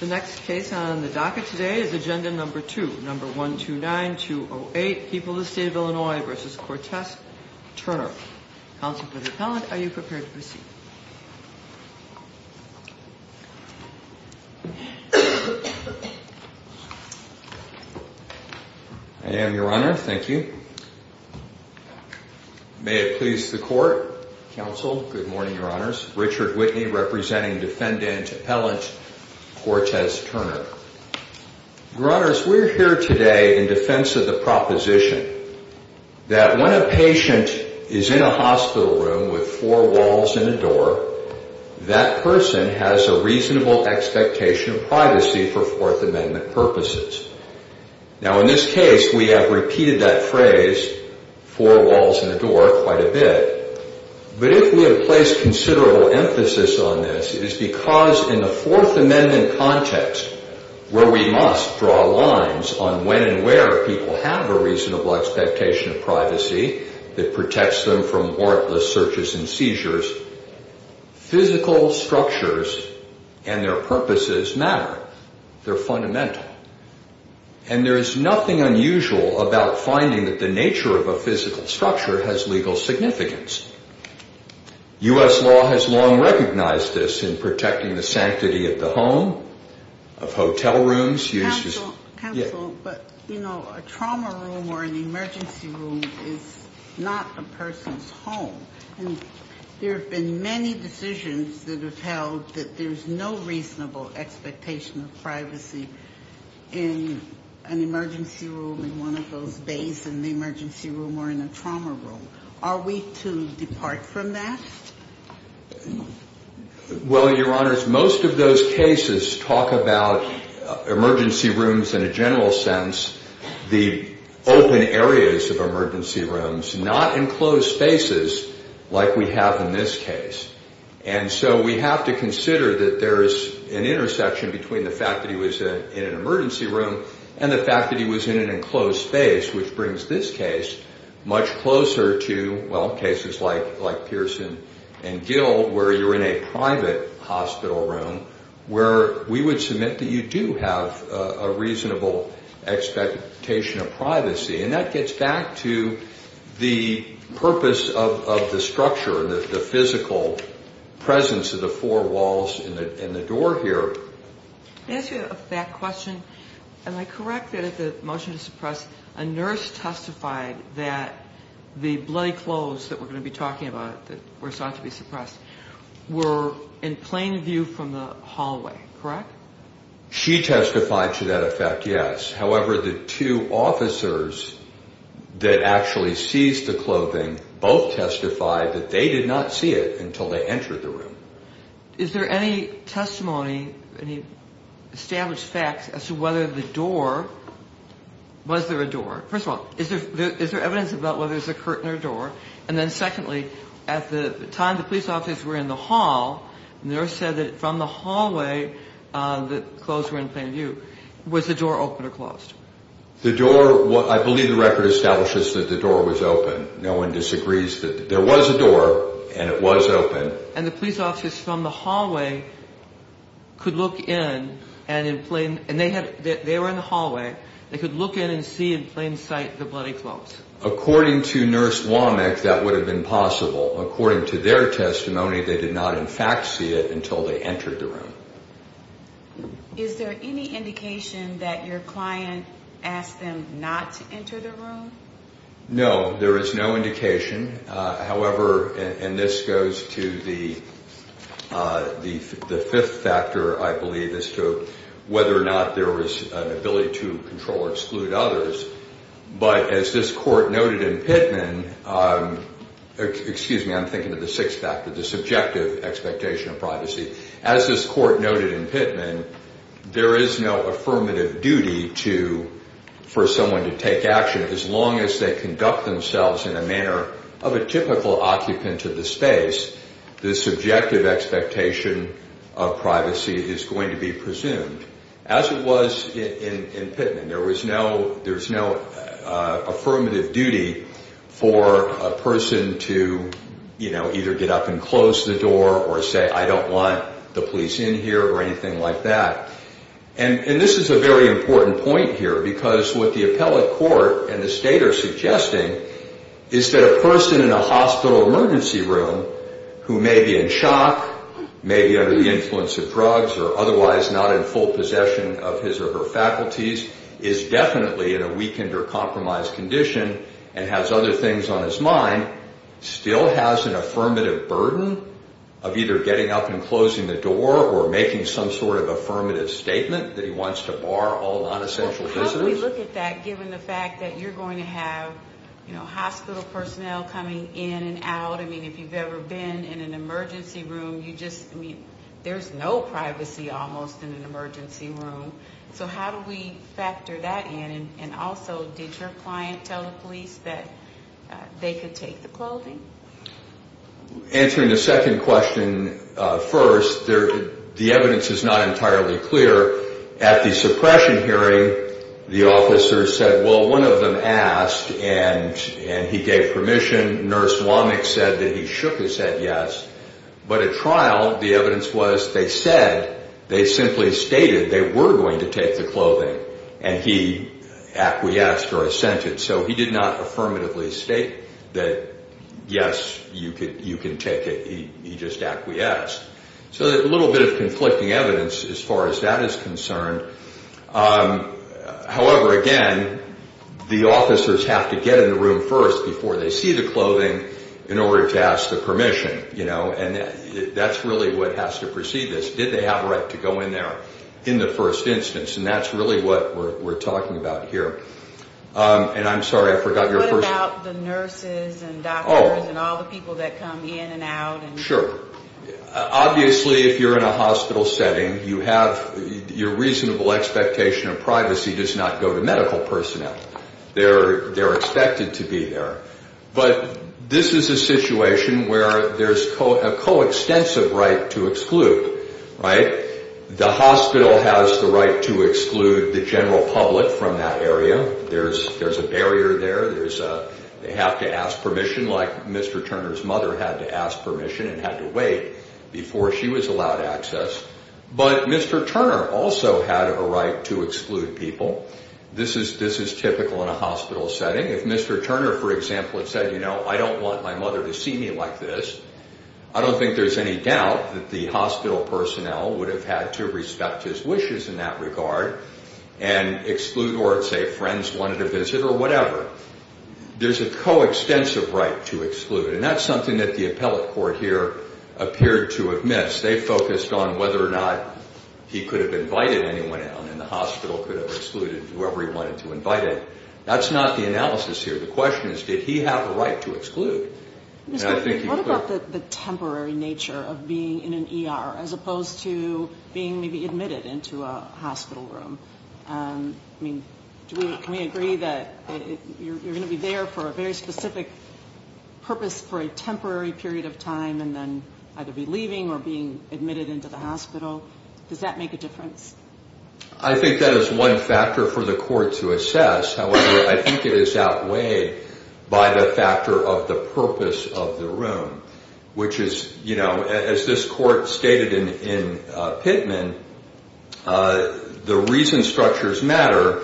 The next case on the docket today is agenda number two, number 129-208, People of the State of Illinois v. Cortez Turner. Counsel for the appellant, are you prepared to proceed? I am, Your Honor. Thank you. May it please the Court, Counsel. Good morning, Your Honors. Richard Whitney representing defendant appellant Cortez Turner. Your Honors, we are here today in defense of the proposition that when a patient is in a hospital room with four walls and a door, that person has a reasonable expectation of privacy for Fourth Amendment purposes. Now, in this case, we have repeated that phrase, four walls and a door, quite a bit. But if we have placed considerable emphasis on this, it is because in the Fourth Amendment context, where we must draw lines on when and where people have a reasonable expectation of privacy that protects them from warrantless searches and seizures, physical structures and their purposes matter. They're fundamental. And there is nothing unusual about finding that the nature of a physical structure has legal significance. U.S. law has long recognized this in protecting the sanctity of the home, of hotel rooms. Counsel, but, you know, a trauma room or an emergency room is not a person's home. And there have been many decisions that have held that there's no reasonable expectation of privacy in an emergency room in one of those bays in the emergency room or in a trauma room. Are we to depart from that? Well, Your Honors, most of those cases talk about emergency rooms in a general sense, the open areas of emergency rooms, not enclosed spaces like we have in this case. And so we have to consider that there is an intersection between the fact that he was in an emergency room and the fact that he was in an enclosed space, which brings this case much closer to, well, cases like Pearson and Gill, where you're in a private hospital room, where we would submit that you do have a reasonable expectation of privacy. And that gets back to the purpose of the structure, the physical presence of the four walls and the door here. May I ask you a fact question? Am I correct that at the motion to suppress, a nurse testified that the bloody clothes that we're going to be talking about, that were sought to be suppressed, were in plain view from the hallway, correct? She testified to that effect, yes. However, the two officers that actually seized the clothing both testified that they did not see it until they entered the room. Is there any testimony, any established facts as to whether the door, was there a door? First of all, is there evidence about whether it was a curtain or a door? And then secondly, at the time the police officers were in the hall, the nurse said that from the hallway the clothes were in plain view. Was the door open or closed? The door, I believe the record establishes that the door was open. No one disagrees that there was a door and it was open. And the police officers from the hallway could look in and in plain, and they were in the hallway, they could look in and see in plain sight the bloody clothes. According to Nurse Womack, that would have been possible. According to their testimony, they did not in fact see it until they entered the room. Is there any indication that your client asked them not to enter the room? No, there is no indication. However, and this goes to the fifth factor, I believe, as to whether or not there was an ability to control or exclude others. But as this court noted in Pittman, excuse me, I'm thinking of the sixth factor, the subjective expectation of privacy. As this court noted in Pittman, there is no affirmative duty for someone to take action. As long as they conduct themselves in a manner of a typical occupant of the space, the subjective expectation of privacy is going to be presumed. As it was in Pittman, there is no affirmative duty for a person to, you know, either get up and close the door or say, I don't want the police in here or anything like that. And this is a very important point here because what the appellate court and the state are suggesting is that a person in a hospital emergency room who may be in shock, may be under the influence of drugs or otherwise not in full possession of his or her faculties, is definitely in a weakened or compromised condition and has other things on his mind, still has an affirmative burden of either getting up and closing the door or making some sort of affirmative statement that he wants to bar all nonessential visitors. Well, how do we look at that given the fact that you're going to have, you know, hospital personnel coming in and out? I mean, if you've ever been in an emergency room, you just, I mean, there's no privacy almost in an emergency room. So how do we factor that in? And also, did your client tell the police that they could take the clothing? Answering the second question first, the evidence is not entirely clear. At the suppression hearing, the officers said, well, one of them asked and he gave permission. Nurse Womack said that he shook his head yes. But at trial, the evidence was they said, they simply stated they were going to take the clothing and he acquiesced or assented. So he did not affirmatively state that yes, you can take it. He just acquiesced. So there's a little bit of conflicting evidence as far as that is concerned. However, again, the officers have to get in the room first before they see the clothing in order to ask the permission, you know, and that's really what has to precede this. Did they have a right to go in there in the first instance? And that's really what we're talking about here. And I'm sorry, I forgot your first question. What about the nurses and doctors and all the people that come in and out? Sure. Obviously, if you're in a hospital setting, you have your reasonable expectation of privacy does not go to medical personnel. They're expected to be there. But this is a situation where there's a coextensive right to exclude, right? The hospital has the right to exclude the general public from that area. There's a barrier there. They have to ask permission like Mr. Turner's mother had to ask permission and had to wait before she was allowed access. But Mr. Turner also had a right to exclude people. This is typical in a hospital setting. If Mr. Turner, for example, had said, you know, I don't want my mother to see me like this, I don't think there's any doubt that the hospital personnel would have had to respect his wishes in that regard and exclude or say friends wanted to visit or whatever. There's a coextensive right to exclude, and that's something that the appellate court here appeared to have missed. They focused on whether or not he could have invited anyone in, and the hospital could have excluded whoever he wanted to invite in. That's not the analysis here. The question is did he have a right to exclude. What about the temporary nature of being in an ER as opposed to being maybe admitted into a hospital room? I mean, can we agree that you're going to be there for a very specific purpose for a temporary period of time and then either be leaving or being admitted into the hospital? Does that make a difference? I think that is one factor for the court to assess. However, I think it is outweighed by the factor of the purpose of the room, which is, you know, as this court stated in Pittman, the reason structures matter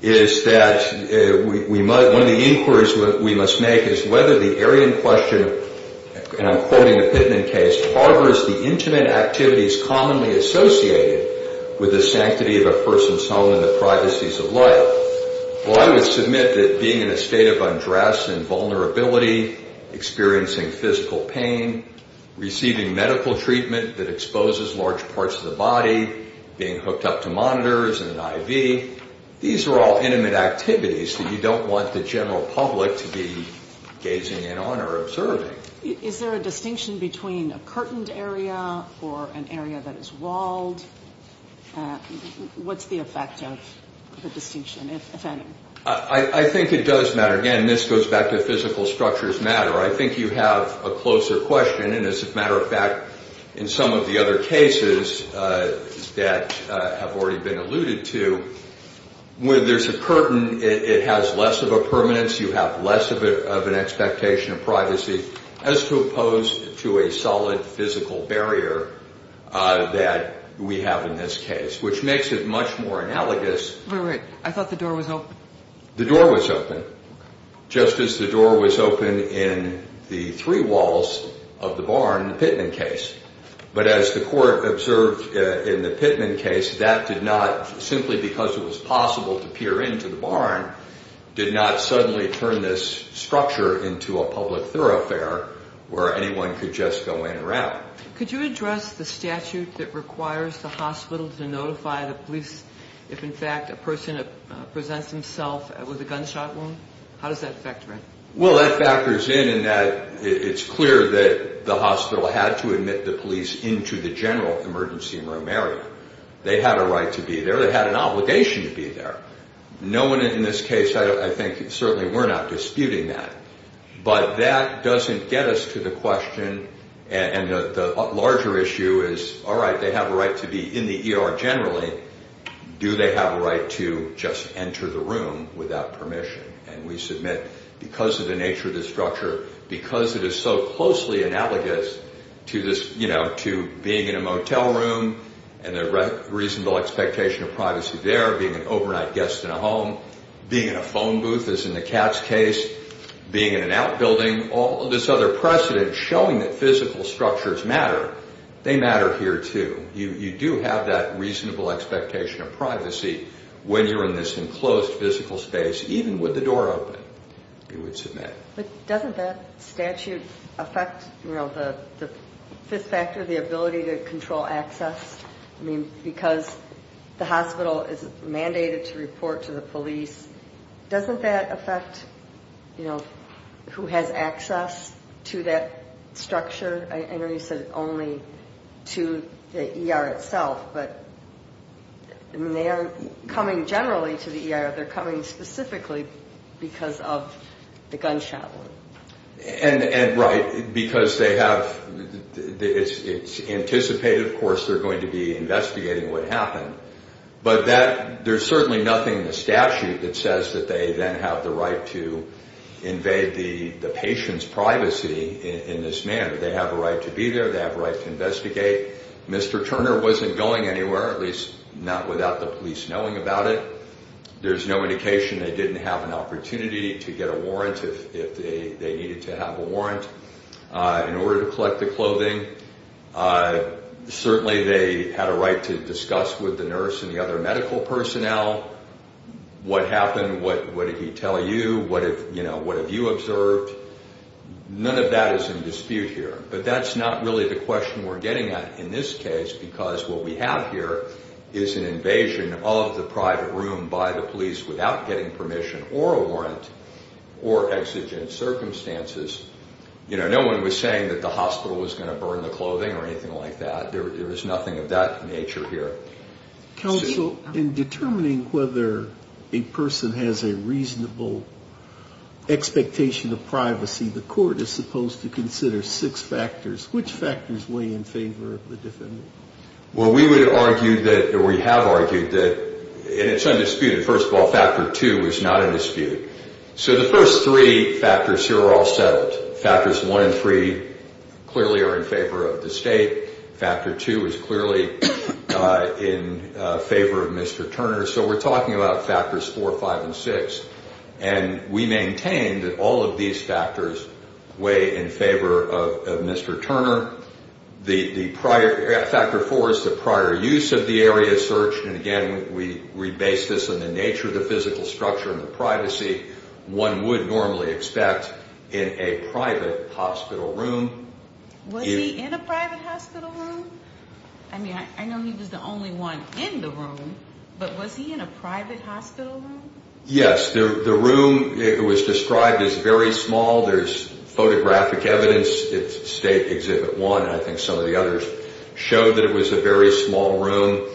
is that one of the inquiries we must make is whether the Aryan question, and I'm quoting the Pittman case, harbors the intimate activities commonly associated with the sanctity of a person's home and the privacies of life. Well, I would submit that being in a state of undress and vulnerability, experiencing physical pain, receiving medical treatment that exposes large parts of the body, being hooked up to monitors and an IV, these are all intimate activities that you don't want the general public to be gazing in on or observing. Is there a distinction between a curtained area or an area that is walled? What's the effect of the distinction, if any? I think it does matter. Again, this goes back to physical structures matter. I think you have a closer question, and as a matter of fact, in some of the other cases that have already been alluded to, where there's a curtain, it has less of a permanence, you have less of an expectation of privacy, as opposed to a solid physical barrier that we have in this case, which makes it much more analogous. Wait, wait, I thought the door was open. The door was open, just as the door was open in the three walls of the barn in the Pittman case. But as the court observed in the Pittman case, that did not, simply because it was possible to peer into the barn, did not suddenly turn this structure into a public thoroughfare where anyone could just go in or out. Could you address the statute that requires the hospital to notify the police if, in fact, a person presents himself with a gunshot wound? How does that factor in? Well, that factors in in that it's clear that the hospital had to admit the police into the general emergency room area. They had a right to be there. They had an obligation to be there. No one in this case, I think, certainly were not disputing that. But that doesn't get us to the question, and the larger issue is, all right, they have a right to be in the ER generally. Do they have a right to just enter the room without permission? And we submit, because of the nature of the structure, because it is so closely analogous to being in a motel room and the reasonable expectation of privacy there, being an overnight guest in a home, being in a phone booth as in the Katz case, being in an outbuilding, all of this other precedent showing that physical structures matter, they matter here, too. You do have that reasonable expectation of privacy when you're in this enclosed physical space, even with the door open, you would submit. But doesn't that statute affect, you know, the fifth factor, the ability to control access? I mean, because the hospital is mandated to report to the police, doesn't that affect, you know, who has access to that structure? I know you said only to the ER itself, but, I mean, they aren't coming generally to the ER. They're coming specifically because of the gunshot wound. And right, because they have, it's anticipated, of course, they're going to be investigating what happened. But there's certainly nothing in the statute that says that they then have the right to invade the patient's privacy in this manner. They have a right to be there, they have a right to investigate. Mr. Turner wasn't going anywhere, at least not without the police knowing about it. There's no indication they didn't have an opportunity to get a warrant if they needed to have a warrant in order to collect the clothing. Certainly they had a right to discuss with the nurse and the other medical personnel what happened, what did he tell you, what have you observed. None of that is in dispute here. But that's not really the question we're getting at in this case because what we have here is an invasion of the private room by the police without getting permission or a warrant or exigent circumstances. You know, no one was saying that the hospital was going to burn the clothing or anything like that. There is nothing of that nature here. Counsel, in determining whether a person has a reasonable expectation of privacy, the court is supposed to consider six factors. Which factors weigh in favor of the defendant? Well, we would argue that, or we have argued that, and it's undisputed, first of all, factor two is not in dispute. So the first three factors here are all settled. Factors one and three clearly are in favor of the state. Factor two is clearly in favor of Mr. Turner. So we're talking about factors four, five, and six. And we maintain that all of these factors weigh in favor of Mr. Turner. The prior, factor four is the prior use of the area search. And, again, we base this on the nature of the physical structure and the privacy one would normally expect in a private hospital room. Was he in a private hospital room? I mean, I know he was the only one in the room, but was he in a private hospital room? Yes. The room was described as very small. There's photographic evidence. It's State Exhibit 1. I think some of the others showed that it was a very small room.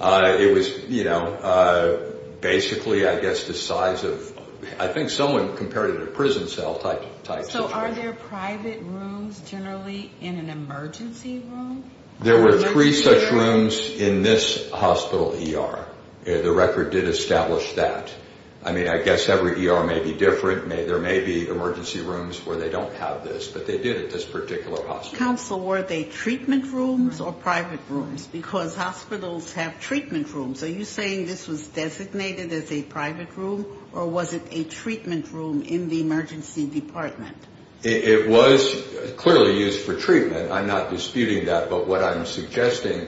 It was, you know, basically, I guess, the size of, I think someone compared it to a prison cell type situation. So are there private rooms generally in an emergency room? There were three such rooms in this hospital ER. The record did establish that. I mean, I guess every ER may be different. There may be emergency rooms where they don't have this, but they did at this particular hospital. Counsel, were they treatment rooms or private rooms? Because hospitals have treatment rooms. Are you saying this was designated as a private room, or was it a treatment room in the emergency department? It was clearly used for treatment. I'm not disputing that, but what I'm suggesting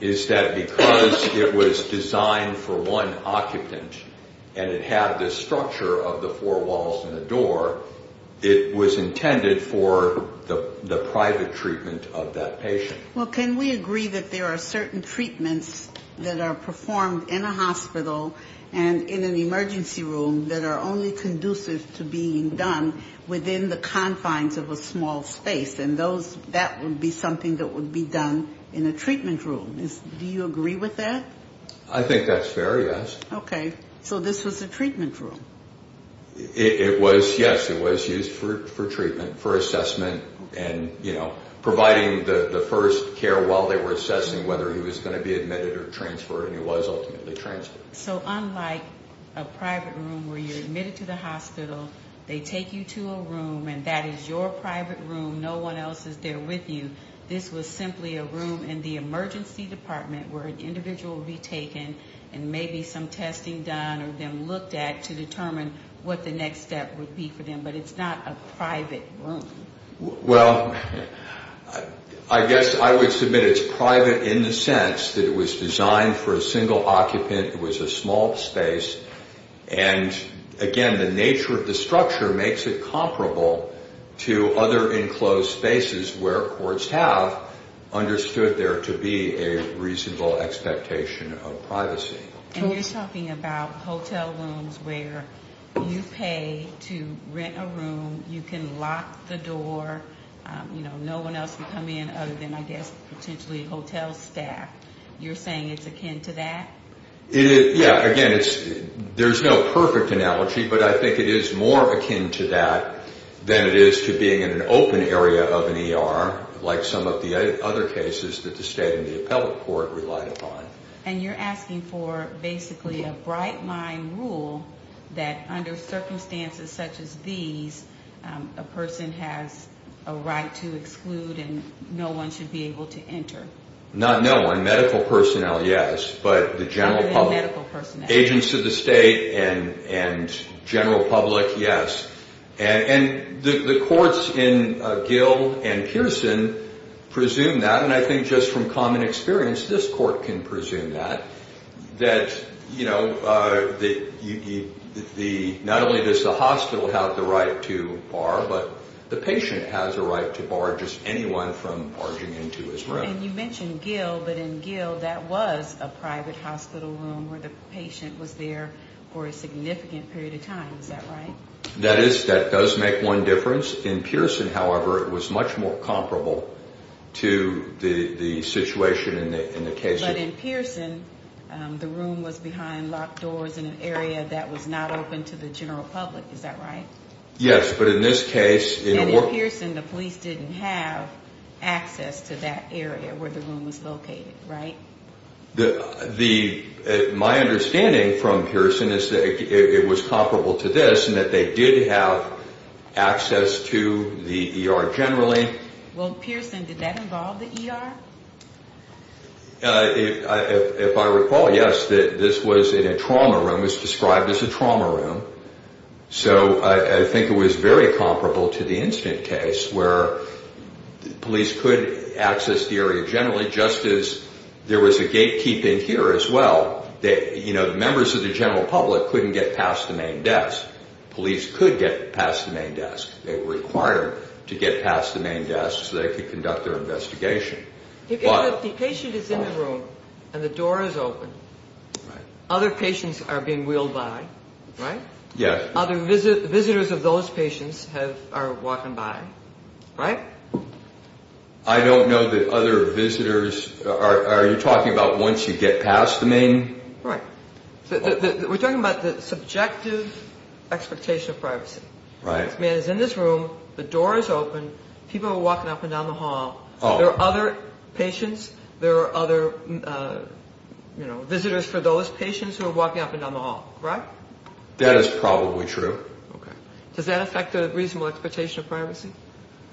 is that because it was designed for one occupant and it had this structure of the four walls and the door, it was intended for the private treatment of that patient. Well, can we agree that there are certain treatments that are performed in a hospital and in an emergency room that are only conducive to being done within the confines of a small space, and that would be something that would be done in a treatment room? Do you agree with that? I think that's fair, yes. Okay. So this was a treatment room? It was, yes. It was used for treatment, for assessment, and, you know, providing the first care while they were assessing whether he was going to be admitted or transferred, and he was ultimately transferred. So unlike a private room where you're admitted to the hospital, they take you to a room, and that is your private room, no one else is there with you, this was simply a room in the emergency department where an individual would be taken and maybe some testing done or them looked at to determine what the next step would be for them, but it's not a private room. Well, I guess I would submit it's private in the sense that it was designed for a single occupant, it was a small space, and, again, the nature of the structure makes it comparable to other enclosed spaces where courts have understood there to be a reasonable expectation of privacy. And you're talking about hotel rooms where you pay to rent a room, you can lock the door, you know, no one else can come in other than, I guess, potentially hotel staff. You're saying it's akin to that? Yeah, again, there's no perfect analogy, but I think it is more akin to that than it is to being in an open area of an ER like some of the other cases that the state and the appellate court relied upon. And you're asking for basically a bright-line rule that under circumstances such as these, a person has a right to exclude and no one should be able to enter. Not no one, medical personnel, yes, but the general public. Other than medical personnel. Agents of the state and general public, yes. And the courts in Gill and Pearson presume that, and I think just from common experience, this court can presume that, that, you know, not only does the hospital have the right to bar, but the patient has a right to bar just anyone from barging into his room. And you mentioned Gill, but in Gill that was a private hospital room where the patient was there for a significant period of time, is that right? That is, that does make one difference. In Pearson, however, it was much more comparable to the situation in the case. But in Pearson, the room was behind locked doors in an area that was not open to the general public, is that right? Yes, but in this case in a work... My understanding from Pearson is that it was comparable to this and that they did have access to the ER generally. Well, Pearson, did that involve the ER? If I recall, yes, this was in a trauma room. It was described as a trauma room. So I think it was very comparable to the incident case where police could access the area generally just as there was a gatekeep in here as well. You know, the members of the general public couldn't get past the main desk. Police could get past the main desk. They were required to get past the main desk so they could conduct their investigation. If the patient is in the room and the door is open, other patients are being wheeled by, right? Yes. Other visitors of those patients are walking by, right? I don't know that other visitors... Are you talking about once you get past the main...? Right. We're talking about the subjective expectation of privacy. Right. If a man is in this room, the door is open, people are walking up and down the hall, there are other patients, there are other, you know, visitors for those patients who are walking up and down the hall, right? That is probably true. Okay. Does that affect the reasonable expectation of privacy?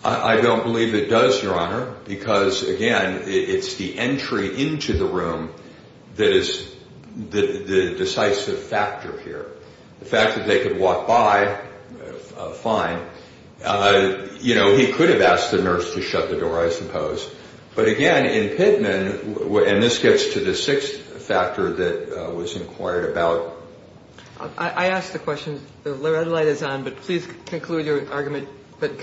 I don't believe it does, Your Honor, because, again, it's the entry into the room that is the decisive factor here. The fact that they could walk by, fine. You know, he could have asked the nurse to shut the door, I suppose. But, again, in Pittman, and this gets to the sixth factor that was inquired about... I asked the question. The red light is on, but please conclude your argument, but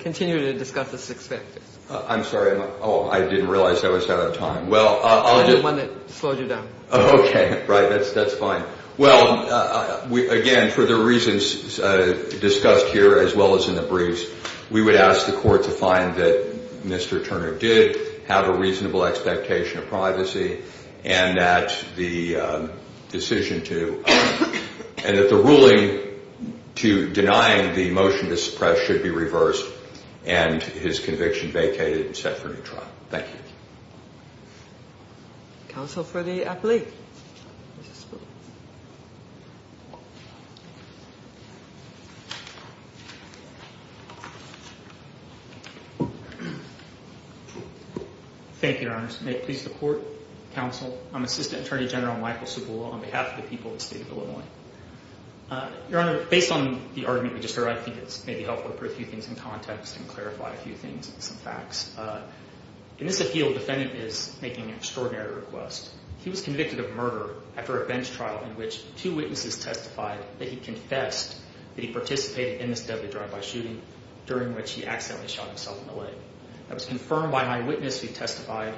continue to discuss the six factors. I'm sorry. Oh, I didn't realize I was out of time. Well, I'll just... I'm the one that slowed you down. Okay. Right. That's fine. Well, again, for the reasons discussed here as well as in the briefs, we would ask the court to find that Mr. Turner did have a reasonable expectation of privacy and that the decision to... and that the ruling to denying the motion to suppress should be reversed and his conviction vacated and set for a new trial. Thank you. Counsel for the appellate. Thank you, Your Honor. May it please the court, counsel, I'm Assistant Attorney General Michael Subula on behalf of the people of the state of Illinois. Your Honor, based on the argument we just heard, I think it may be helpful to put a few things in context and clarify a few things and some facts. In this appeal, the defendant is making an extraordinary request. He was convicted of murder after a bench trial in which two witnesses testified that he confessed that he participated in this deadly drive-by shooting during which he accidentally shot himself in the leg. It was confirmed by eyewitnesses who testified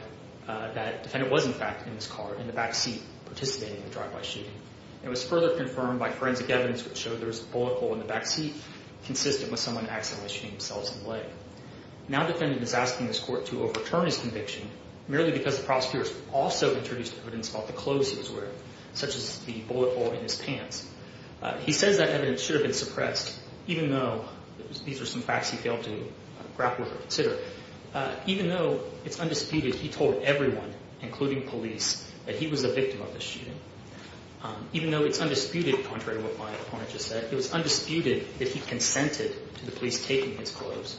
that the defendant was, in fact, in this car, in the back seat, participating in the drive-by shooting. It was further confirmed by forensic evidence which showed there was a bullet hole in the back seat consistent with someone accidentally shooting themselves in the leg. Now the defendant is asking this court to overturn his conviction merely because the prosecutor has also introduced evidence about the clothes he was wearing, such as the bullet hole in his pants. He says that evidence should have been suppressed, even though these are some facts he failed to grapple with or consider. Even though it's undisputed, he told everyone, including police, that he was the victim of the shooting. Even though it's undisputed, contrary to what my opponent just said, it was undisputed that he consented to the police taking his clothes,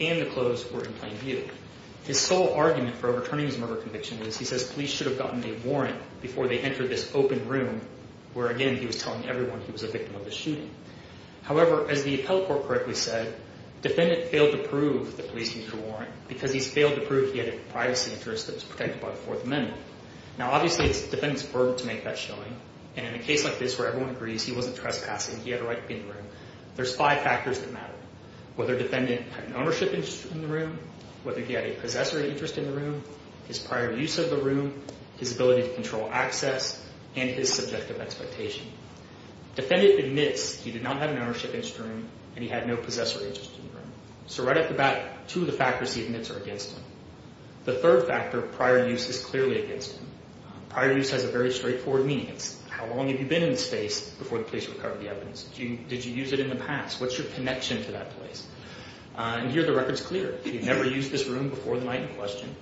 and the clothes were in plain view. His sole argument for overturning his murder conviction is, he says, police should have gotten a warrant before they entered this open room where, again, he was telling everyone he was a victim of the shooting. However, as the appellate court correctly said, defendant failed to prove the police needed a warrant because he's failed to prove he had a privacy interest that was protected by the Fourth Amendment. Now, obviously, it's the defendant's burden to make that showing, and in a case like this where everyone agrees he wasn't trespassing, he had a right to be in the room, there's five factors that matter. Whether defendant had an ownership interest in the room, whether he had a possessory interest in the room, his prior use of the room, his ability to control access, and his subjective expectation. Defendant admits he did not have an ownership interest in the room, and he had no possessory interest in the room. So right off the bat, two of the factors he admits are against him. The third factor, prior use, is clearly against him. Prior use has a very straightforward meaning. It's how long have you been in the space before the police recovered the evidence? Did you use it in the past? What's your connection to that place? And here, the record's clear. He never used this room before the night in question,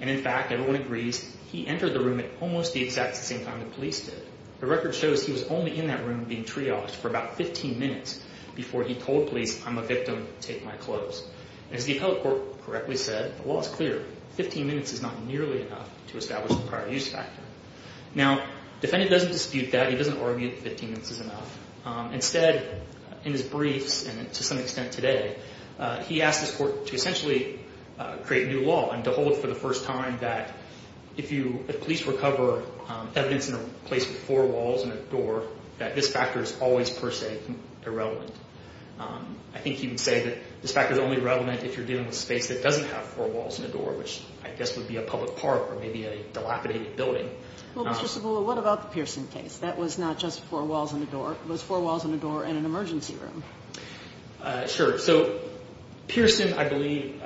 and in fact, everyone agrees he entered the room at almost the exact same time the police did. The record shows he was only in that room being triaged for about 15 minutes before he told police, I'm a victim, take my clothes. As the appellate court correctly said, the law is clear. 15 minutes is not nearly enough to establish the prior use factor. Now, defendant doesn't dispute that. He doesn't argue that 15 minutes is enough. Instead, in his briefs and to some extent today, he asked his court to essentially create new law and to hold for the first time that if police recover evidence in a place with four walls and a door, that this factor is always, per se, irrelevant. I think he would say that this factor is only relevant if you're dealing with a space that doesn't have four walls and a door, which I guess would be a public park or maybe a dilapidated building. Well, Mr. Sabula, what about the Pearson case? That was not just four walls and a door. It was four walls and a door in an emergency room. Sure. So Pearson, I believe,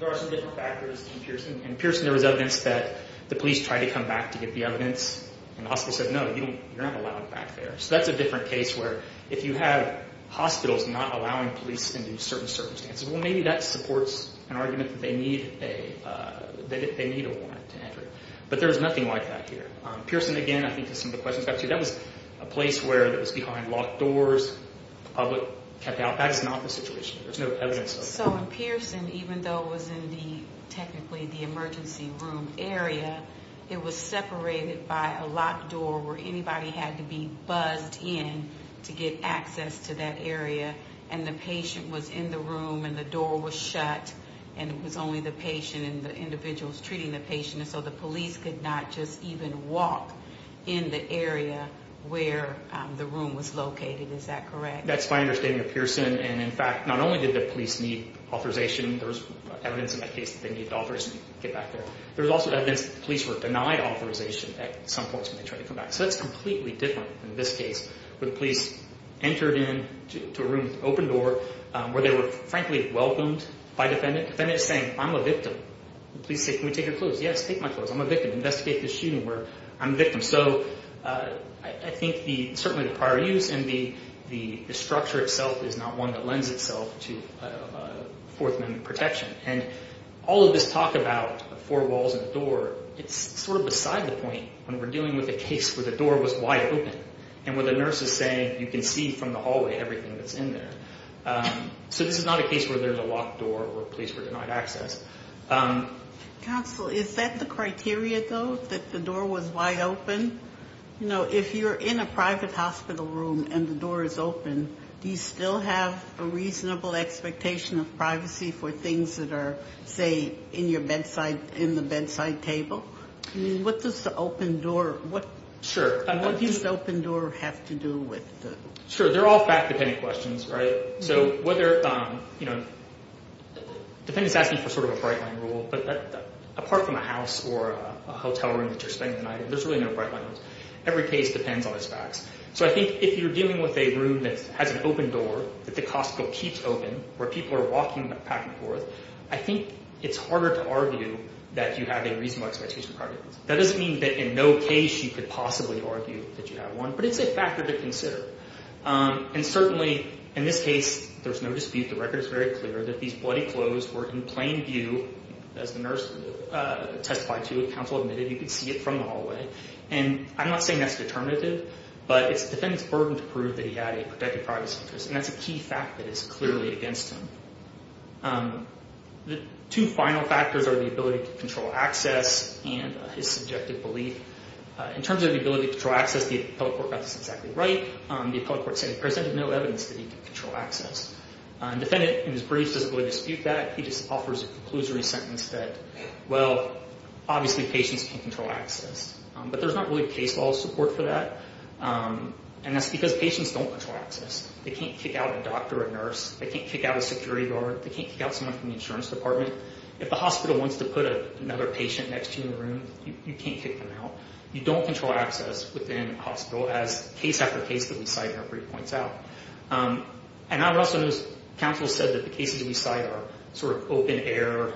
there are some different factors in Pearson. In Pearson, there was evidence that the police tried to come back to get the evidence, and the hospital said, no, you're not allowed back there. So that's a different case where if you have hospitals not allowing police into certain circumstances, well, maybe that supports an argument that they need a warrant to enter. But there is nothing like that here. Pearson, again, I think to some of the questions I've got to you, that was a place where it was behind locked doors, public kept out. That is not the situation. There's no evidence of that. So in Pearson, even though it was in the technically the emergency room area, it was separated by a locked door where anybody had to be buzzed in to get access to that area, and the patient was in the room, and the door was shut, and it was only the patient and the individuals treating the patient, and so the police could not just even walk in the area where the room was located. Is that correct? That's my understanding of Pearson, and, in fact, not only did the police need authorization, there was evidence in that case that they needed authorization to get back there. There was also evidence that the police were denied authorization at some points when they tried to come back. So that's completely different in this case where the police entered into a room with an open door where they were, frankly, welcomed by a defendant. The defendant is saying, I'm a victim. The police say, can we take your clothes? Yes, take my clothes. I'm a victim. Investigate this shooting where I'm a victim. So I think certainly the prior use and the structure itself is not one that lends itself to Fourth Amendment protection. And all of this talk about four walls and a door, it's sort of beside the point when we're dealing with a case where the door was wide open and where the nurse is saying you can see from the hallway everything that's in there. So this is not a case where there's a locked door or a place for denied access. Counsel, is that the criteria, though, that the door was wide open? You know, if you're in a private hospital room and the door is open, do you still have a reasonable expectation of privacy for things that are, say, in your bedside, in the bedside table? I mean, what does the open door, what does the open door have to do with? Sure. They're all fact-dependent questions, right? So whether, you know, the defendant's asking for sort of a bright-line rule, but apart from a house or a hotel room that you're spending the night in, there's really no bright-line rules. Every case depends on its facts. So I think if you're dealing with a room that has an open door, that the hospital keeps open, where people are walking back and forth, I think it's harder to argue that you have a reasonable expectation of privacy. That doesn't mean that in no case you could possibly argue that you have one, but it's a factor to consider. And certainly in this case, there's no dispute. The record is very clear that these bloody clothes were in plain view, as the nurse testified to and counsel admitted, you could see it from the hallway. And I'm not saying that's determinative, but it's the defendant's burden to prove that he had a protected privacy interest, and that's a key fact that is clearly against him. The two final factors are the ability to control access and his subjective belief. In terms of the ability to control access, the appellate court got this exactly right. The appellate court said it presented no evidence that he could control access. The defendant, in his brief, doesn't really dispute that. He just offers a conclusory sentence that, well, obviously patients can't control access. But there's not really case law support for that, and that's because patients don't control access. They can't kick out a doctor or a nurse. They can't kick out a security guard. They can't kick out someone from the insurance department. If the hospital wants to put another patient next to you in a room, you can't kick them out. You don't control access within a hospital, as case after case that we cite in our brief points out. And I would also note counsel said that the cases we cite are sort of open-air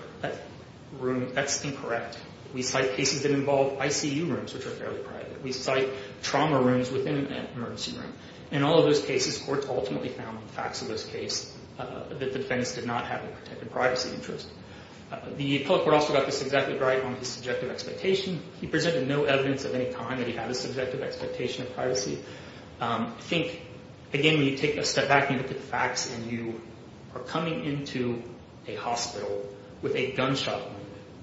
rooms. That's incorrect. We cite cases that involve ICU rooms, which are fairly private. We cite trauma rooms within an emergency room. In all of those cases, courts ultimately found in the facts of those cases that the defendants did not have a protected privacy interest. The appellate court also got this exactly right on his subjective expectation. He presented no evidence of any kind that he had a subjective expectation of privacy. Think, again, when you take a step back and you look at the facts and you are coming into a hospital with a gunshot wound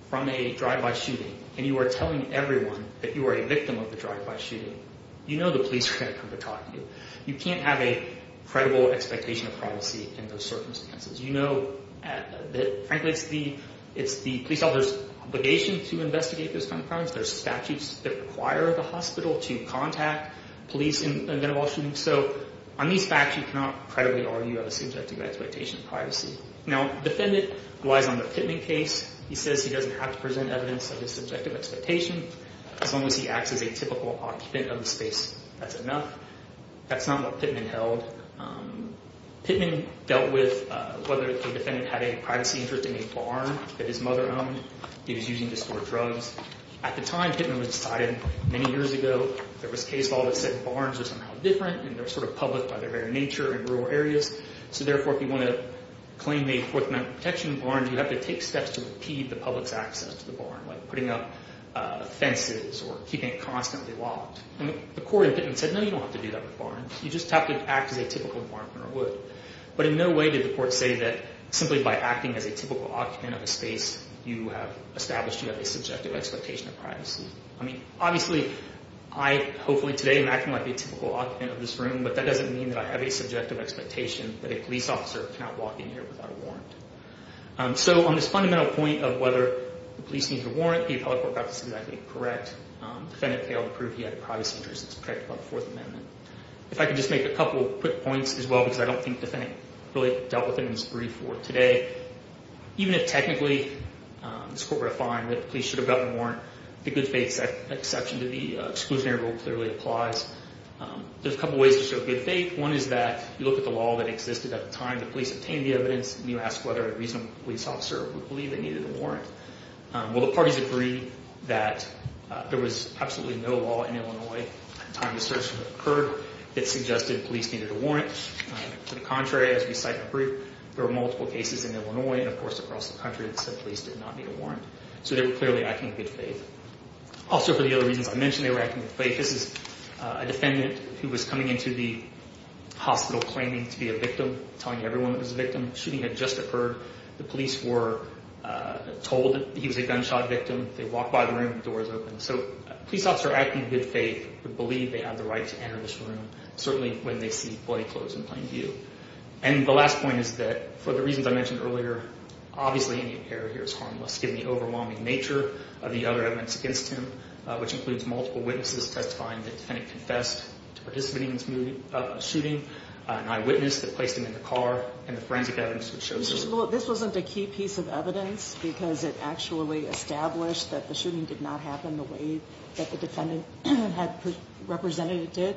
from a drive-by shooting and you are telling everyone that you are a victim of the drive-by shooting, you know the police are going to come to talk to you. You can't have a credible expectation of privacy in those circumstances. You know that, frankly, it's the police officer's obligation to investigate those kinds of crimes. There are statutes that require the hospital to contact police in a gun and ball shooting. So on these facts, you cannot credibly argue on the subjective expectation of privacy. Now, the defendant relies on the Pittman case. He says he doesn't have to present evidence of his subjective expectation as long as he acts as a typical occupant of the space. That's enough. That's not what Pittman held. Pittman dealt with whether the defendant had a privacy interest in a barn that his mother owned. He was using it to store drugs. At the time Pittman was cited, many years ago, there was case law that said barns are somehow different and they're sort of public by their very nature in rural areas. So therefore, if you want to claim a Fourth Amendment protection barn, like putting up fences or keeping it constantly locked, the court in Pittman said, no, you don't have to do that with barns. You just have to act as a typical barn owner would. But in no way did the court say that simply by acting as a typical occupant of a space you have established you have a subjective expectation of privacy. I mean, obviously, I hopefully today am acting like a typical occupant of this room, but that doesn't mean that I have a subjective expectation that a police officer cannot walk in here without a warrant. So on this fundamental point of whether the police need a warrant, the appellate court got this exactly correct. The defendant failed to prove he had a privacy interest. It's correct about the Fourth Amendment. If I could just make a couple quick points as well, because I don't think the defendant really dealt with it in his brief for today. Even if technically this court were to find that the police should have gotten a warrant, the good faith exception to the exclusionary rule clearly applies. There's a couple ways to show good faith. One is that you look at the law that existed at the time the police obtained the evidence, and you ask whether a reasonable police officer would believe they needed a warrant. Well, the parties agree that there was absolutely no law in Illinois at the time the search occurred that suggested police needed a warrant. To the contrary, as we cite in the brief, there were multiple cases in Illinois and, of course, across the country that said police did not need a warrant. So they were clearly acting in good faith. Also, for the other reasons I mentioned, they were acting in good faith. Shooting had just occurred. The police were told he was a gunshot victim. They walked by the room, the doors opened. So a police officer acting in good faith would believe they had the right to enter this room, certainly when they see bloody clothes in plain view. And the last point is that, for the reasons I mentioned earlier, obviously any error here is harmless, given the overwhelming nature of the other evidence against him, which includes multiple witnesses testifying that the defendant confessed to participating in the shooting, an eyewitness that placed him in the car, and the forensic evidence that showed so. This wasn't a key piece of evidence because it actually established that the shooting did not happen the way that the defendant had represented it did?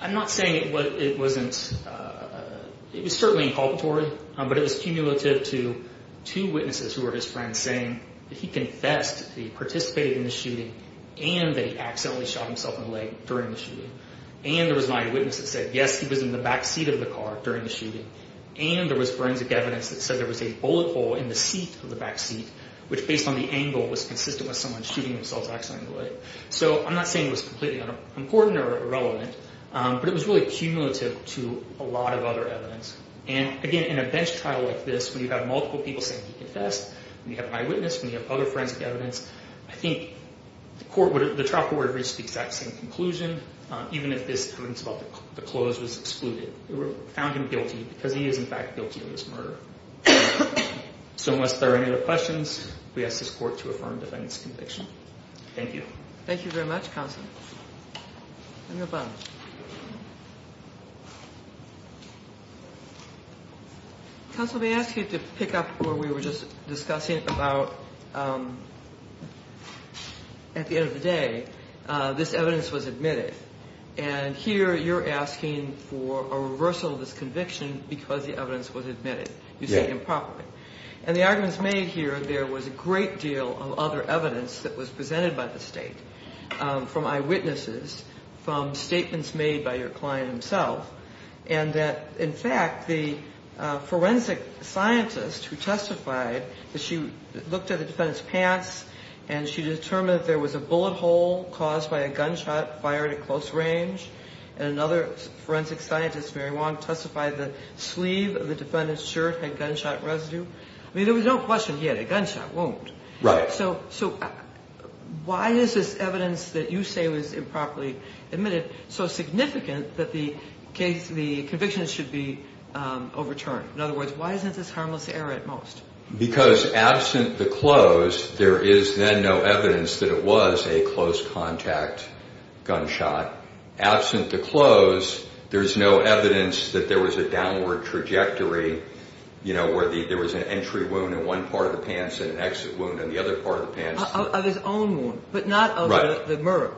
I'm not saying it wasn't. It was certainly inculpatory, but it was cumulative to two witnesses who were his friends saying that he confessed, that he participated in the shooting, and that he accidentally shot himself in the leg during the shooting. And there was an eyewitness that said, yes, he was in the backseat of the car during the shooting. And there was forensic evidence that said there was a bullet hole in the seat of the backseat, which, based on the angle, was consistent with someone shooting themselves accidentally in the leg. So I'm not saying it was completely important or irrelevant, but it was really cumulative to a lot of other evidence. And again, in a bench trial like this, when you have multiple people saying he confessed, when you have an eyewitness, when you have other forensic evidence, I think the trial court would have reached the exact same conclusion, even if this evidence about the clothes was excluded. We found him guilty because he is, in fact, guilty of this murder. So unless there are any other questions, we ask this court to affirm the defendant's conviction. Thank you. Let me go back. Counsel, may I ask you to pick up where we were just discussing about at the end of the day this evidence was admitted. And here you're asking for a reversal of this conviction because the evidence was admitted. You said improperly. And the arguments made here, there was a great deal of other evidence that was presented by the State, from eyewitnesses, from statements made by your client himself, and that, in fact, the forensic scientist who testified that she looked at the defendant's pants and she determined that there was a bullet hole caused by a gunshot fired at close range. And another forensic scientist, Mary Wong, testified the sleeve of the defendant's shirt had gunshot residue. I mean, there was no question he had a gunshot wound. Right. So why is this evidence that you say was improperly admitted so significant that the conviction should be overturned? In other words, why isn't this harmless error at most? Because absent the close, there is then no evidence that it was a close contact gunshot. Absent the close, there's no evidence that there was a downward trajectory, you know, where there was an entry wound in one part of the pants and an exit wound in the other part of the pants. Of his own wound, but not of the murderer.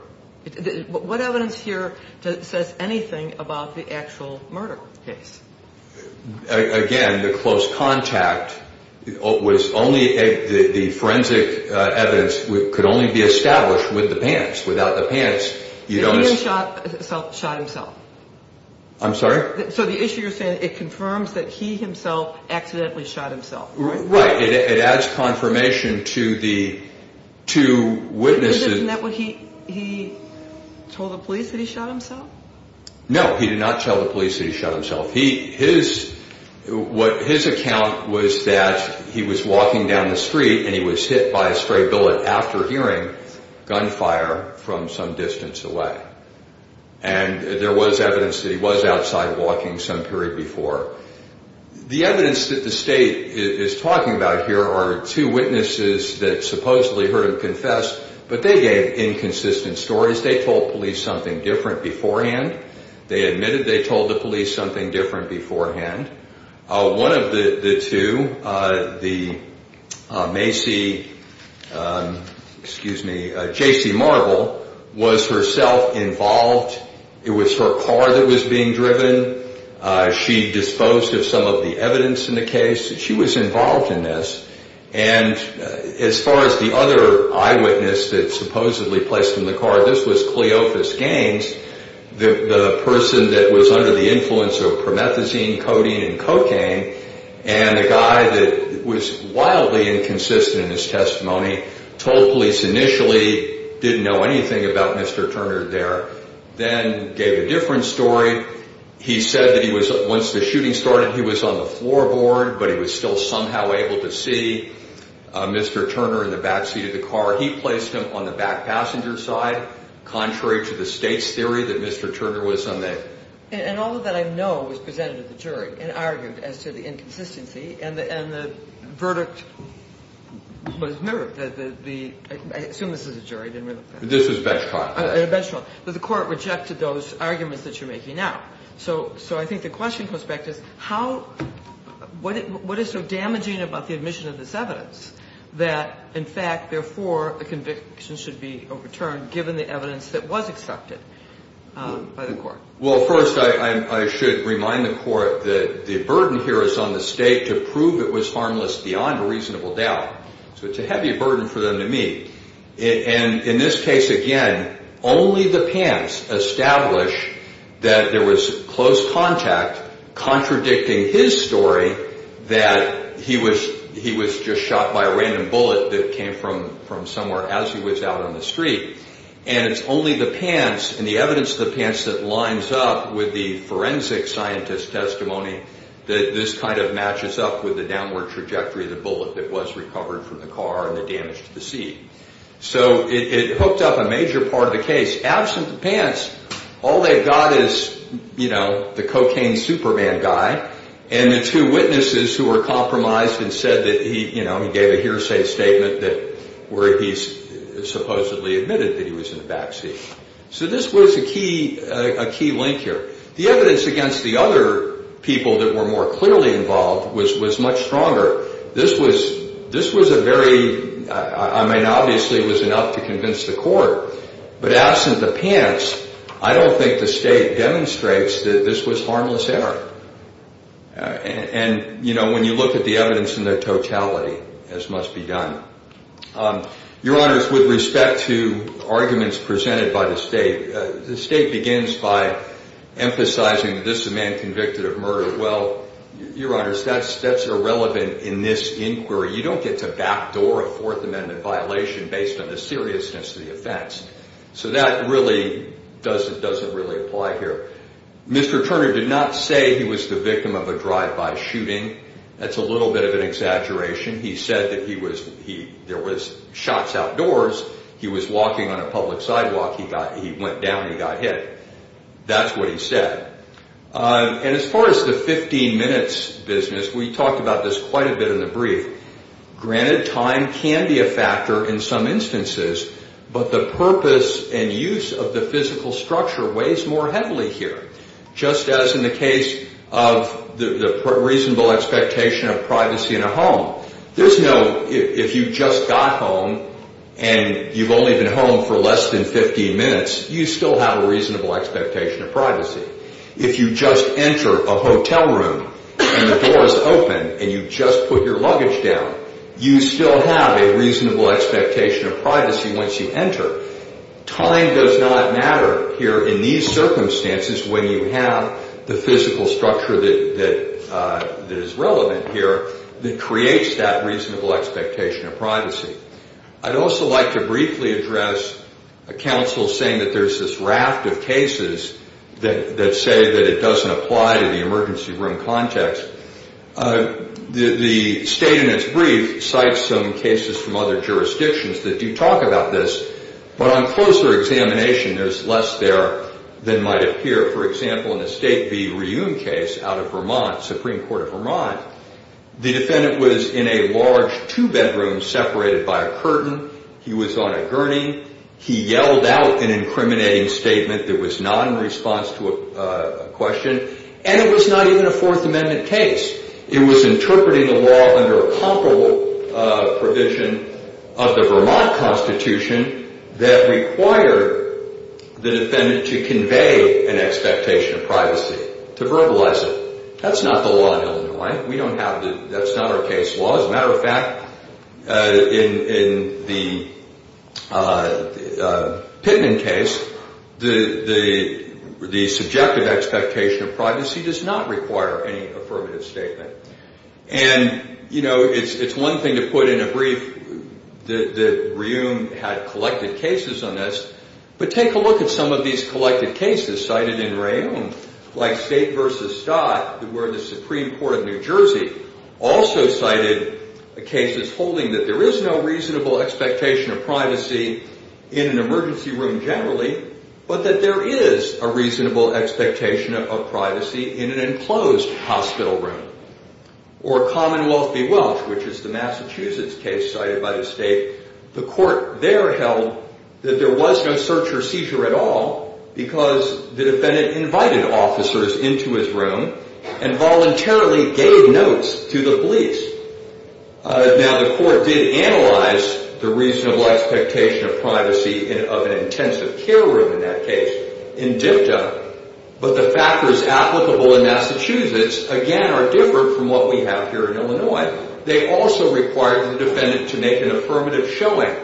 Right. What evidence here says anything about the actual murder case? Again, the close contact was only the forensic evidence could only be established with the pants. Without the pants, you don't. The man shot himself. I'm sorry? So the issue you're saying, it confirms that he himself accidentally shot himself, right? Right. It adds confirmation to the two witnesses. Isn't that what he told the police that he shot himself? No, he did not tell the police that he shot himself. His account was that he was walking down the street and he was hit by a stray bullet after hearing gunfire from some distance away. And there was evidence that he was outside walking some period before. The evidence that the state is talking about here are two witnesses that supposedly heard him confess, but they gave inconsistent stories. They told police something different beforehand. They admitted they told the police something different beforehand. One of the two, the Macy, excuse me, J.C. Marble, was herself involved. It was her car that was being driven. She disposed of some of the evidence in the case. She was involved in this. And as far as the other eyewitness that supposedly placed in the car, this was Cleophas Gaines, the person that was under the influence of promethazine, codeine, and cocaine. And the guy that was wildly inconsistent in his testimony told police initially didn't know anything about Mr. Turner there. Then gave a different story. He said that once the shooting started, he was on the floorboard, but he was still somehow able to see Mr. Turner in the backseat of the car. He placed him on the back passenger side, contrary to the state's theory that Mr. Turner was unnamed. And all of that I know was presented to the jury and argued as to the inconsistency. And the verdict was mirrored. I assume this is a jury. This is bench trial. The court rejected those arguments that you're making now. So I think the question comes back to what is so damaging about the admission of this evidence that, in fact, therefore a conviction should be overturned given the evidence that was accepted by the court? Well, first I should remind the court that the burden here is on the state to prove it was harmless beyond a reasonable doubt. So it's a heavy burden for them to meet. And in this case, again, only the pants establish that there was close contact, contradicting his story that he was just shot by a random bullet that came from somewhere as he was out on the street. And it's only the pants and the evidence of the pants that lines up with the forensic scientist's testimony that this kind of matches up with the downward trajectory of the bullet that was recovered from the car and that damaged the seat. So it hooked up a major part of the case. Absent the pants, all they've got is, you know, the cocaine Superman guy and the two witnesses who were compromised and said that he, you know, he gave a hearsay statement that where he supposedly admitted that he was in the backseat. So this was a key link here. The evidence against the other people that were more clearly involved was much stronger. This was a very, I mean, obviously it was enough to convince the court. But absent the pants, I don't think the state demonstrates that this was harmless error. And, you know, when you look at the evidence in their totality, as must be done. Your Honors, with respect to arguments presented by the state, the state begins by emphasizing that this is a man convicted of murder. Well, Your Honors, that's irrelevant in this inquiry. You don't get to backdoor a Fourth Amendment violation based on the seriousness of the offense. So that really doesn't really apply here. Mr. Turner did not say he was the victim of a drive-by shooting. That's a little bit of an exaggeration. He said that there was shots outdoors, he was walking on a public sidewalk, he went down and he got hit. That's what he said. And as far as the 15 minutes business, we talked about this quite a bit in the brief. Granted, time can be a factor in some instances, but the purpose and use of the physical structure weighs more heavily here. Just as in the case of the reasonable expectation of privacy in a home. There's no, if you just got home and you've only been home for less than 15 minutes, you still have a reasonable expectation of privacy. If you just enter a hotel room and the door is open and you just put your luggage down, you still have a reasonable expectation of privacy once you enter. Time does not matter here in these circumstances when you have the physical structure that is relevant here that creates that reasonable expectation of privacy. I'd also like to briefly address a counsel saying that there's this raft of cases that say that it doesn't apply to the emergency room context. The statement's brief cites some cases from other jurisdictions that do talk about this but on closer examination, there's less there than might appear. For example, in the State v. Reume case out of Vermont, Supreme Court of Vermont, the defendant was in a large two-bedroom separated by a curtain. He was on a gurney. He yelled out an incriminating statement that was not in response to a question, and it was not even a Fourth Amendment case. It was interpreting the law under a comparable provision of the Vermont Constitution that required the defendant to convey an expectation of privacy, to verbalize it. That's not the law in Illinois. That's not our case law. As a matter of fact, in the Pittman case, the subjective expectation of privacy does not require any affirmative statement. And, you know, it's one thing to put in a brief that Reume had collected cases on this, but take a look at some of these collected cases cited in Reume, like State v. Stott, where the Supreme Court of New Jersey also cited cases holding that there is no reasonable expectation of privacy in an emergency room generally, but that there is a reasonable expectation of privacy in an enclosed hospital room. Or Commonwealth v. Welch, which is the Massachusetts case cited by the State, the court there held that there was no search or seizure at all because the defendant invited officers into his room and voluntarily gave notes to the police. Now, the court did analyze the reasonable expectation of privacy of an intensive care room in that case in DFTA, but the factors applicable in Massachusetts, again, are different from what we have here in Illinois. They also required the defendant to make an affirmative showing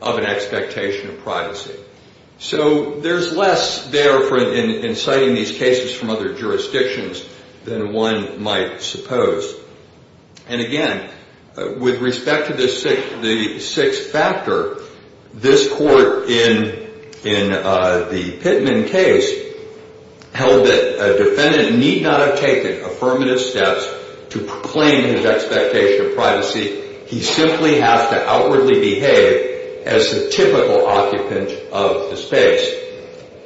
of an expectation of privacy. So there's less there in citing these cases from other jurisdictions than one might suppose. And again, with respect to the sixth factor, this court in the Pittman case held that a defendant need not have taken affirmative steps to proclaim his expectation of privacy. He simply has to outwardly behave as the typical occupant of the space,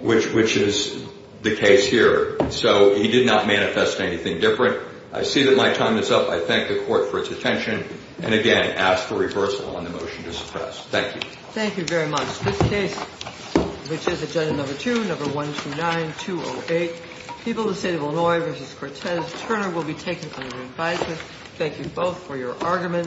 which is the case here. So he did not manifest anything different. I see that my time is up. I thank the court for its attention and, again, ask for reversal on the motion to suppress. Thank you. Thank you very much. This case, which is agenda number two, number 129208, People of the State of Illinois v. Cortez-Turner, will be taken under advisement. Thank you both for your arguments.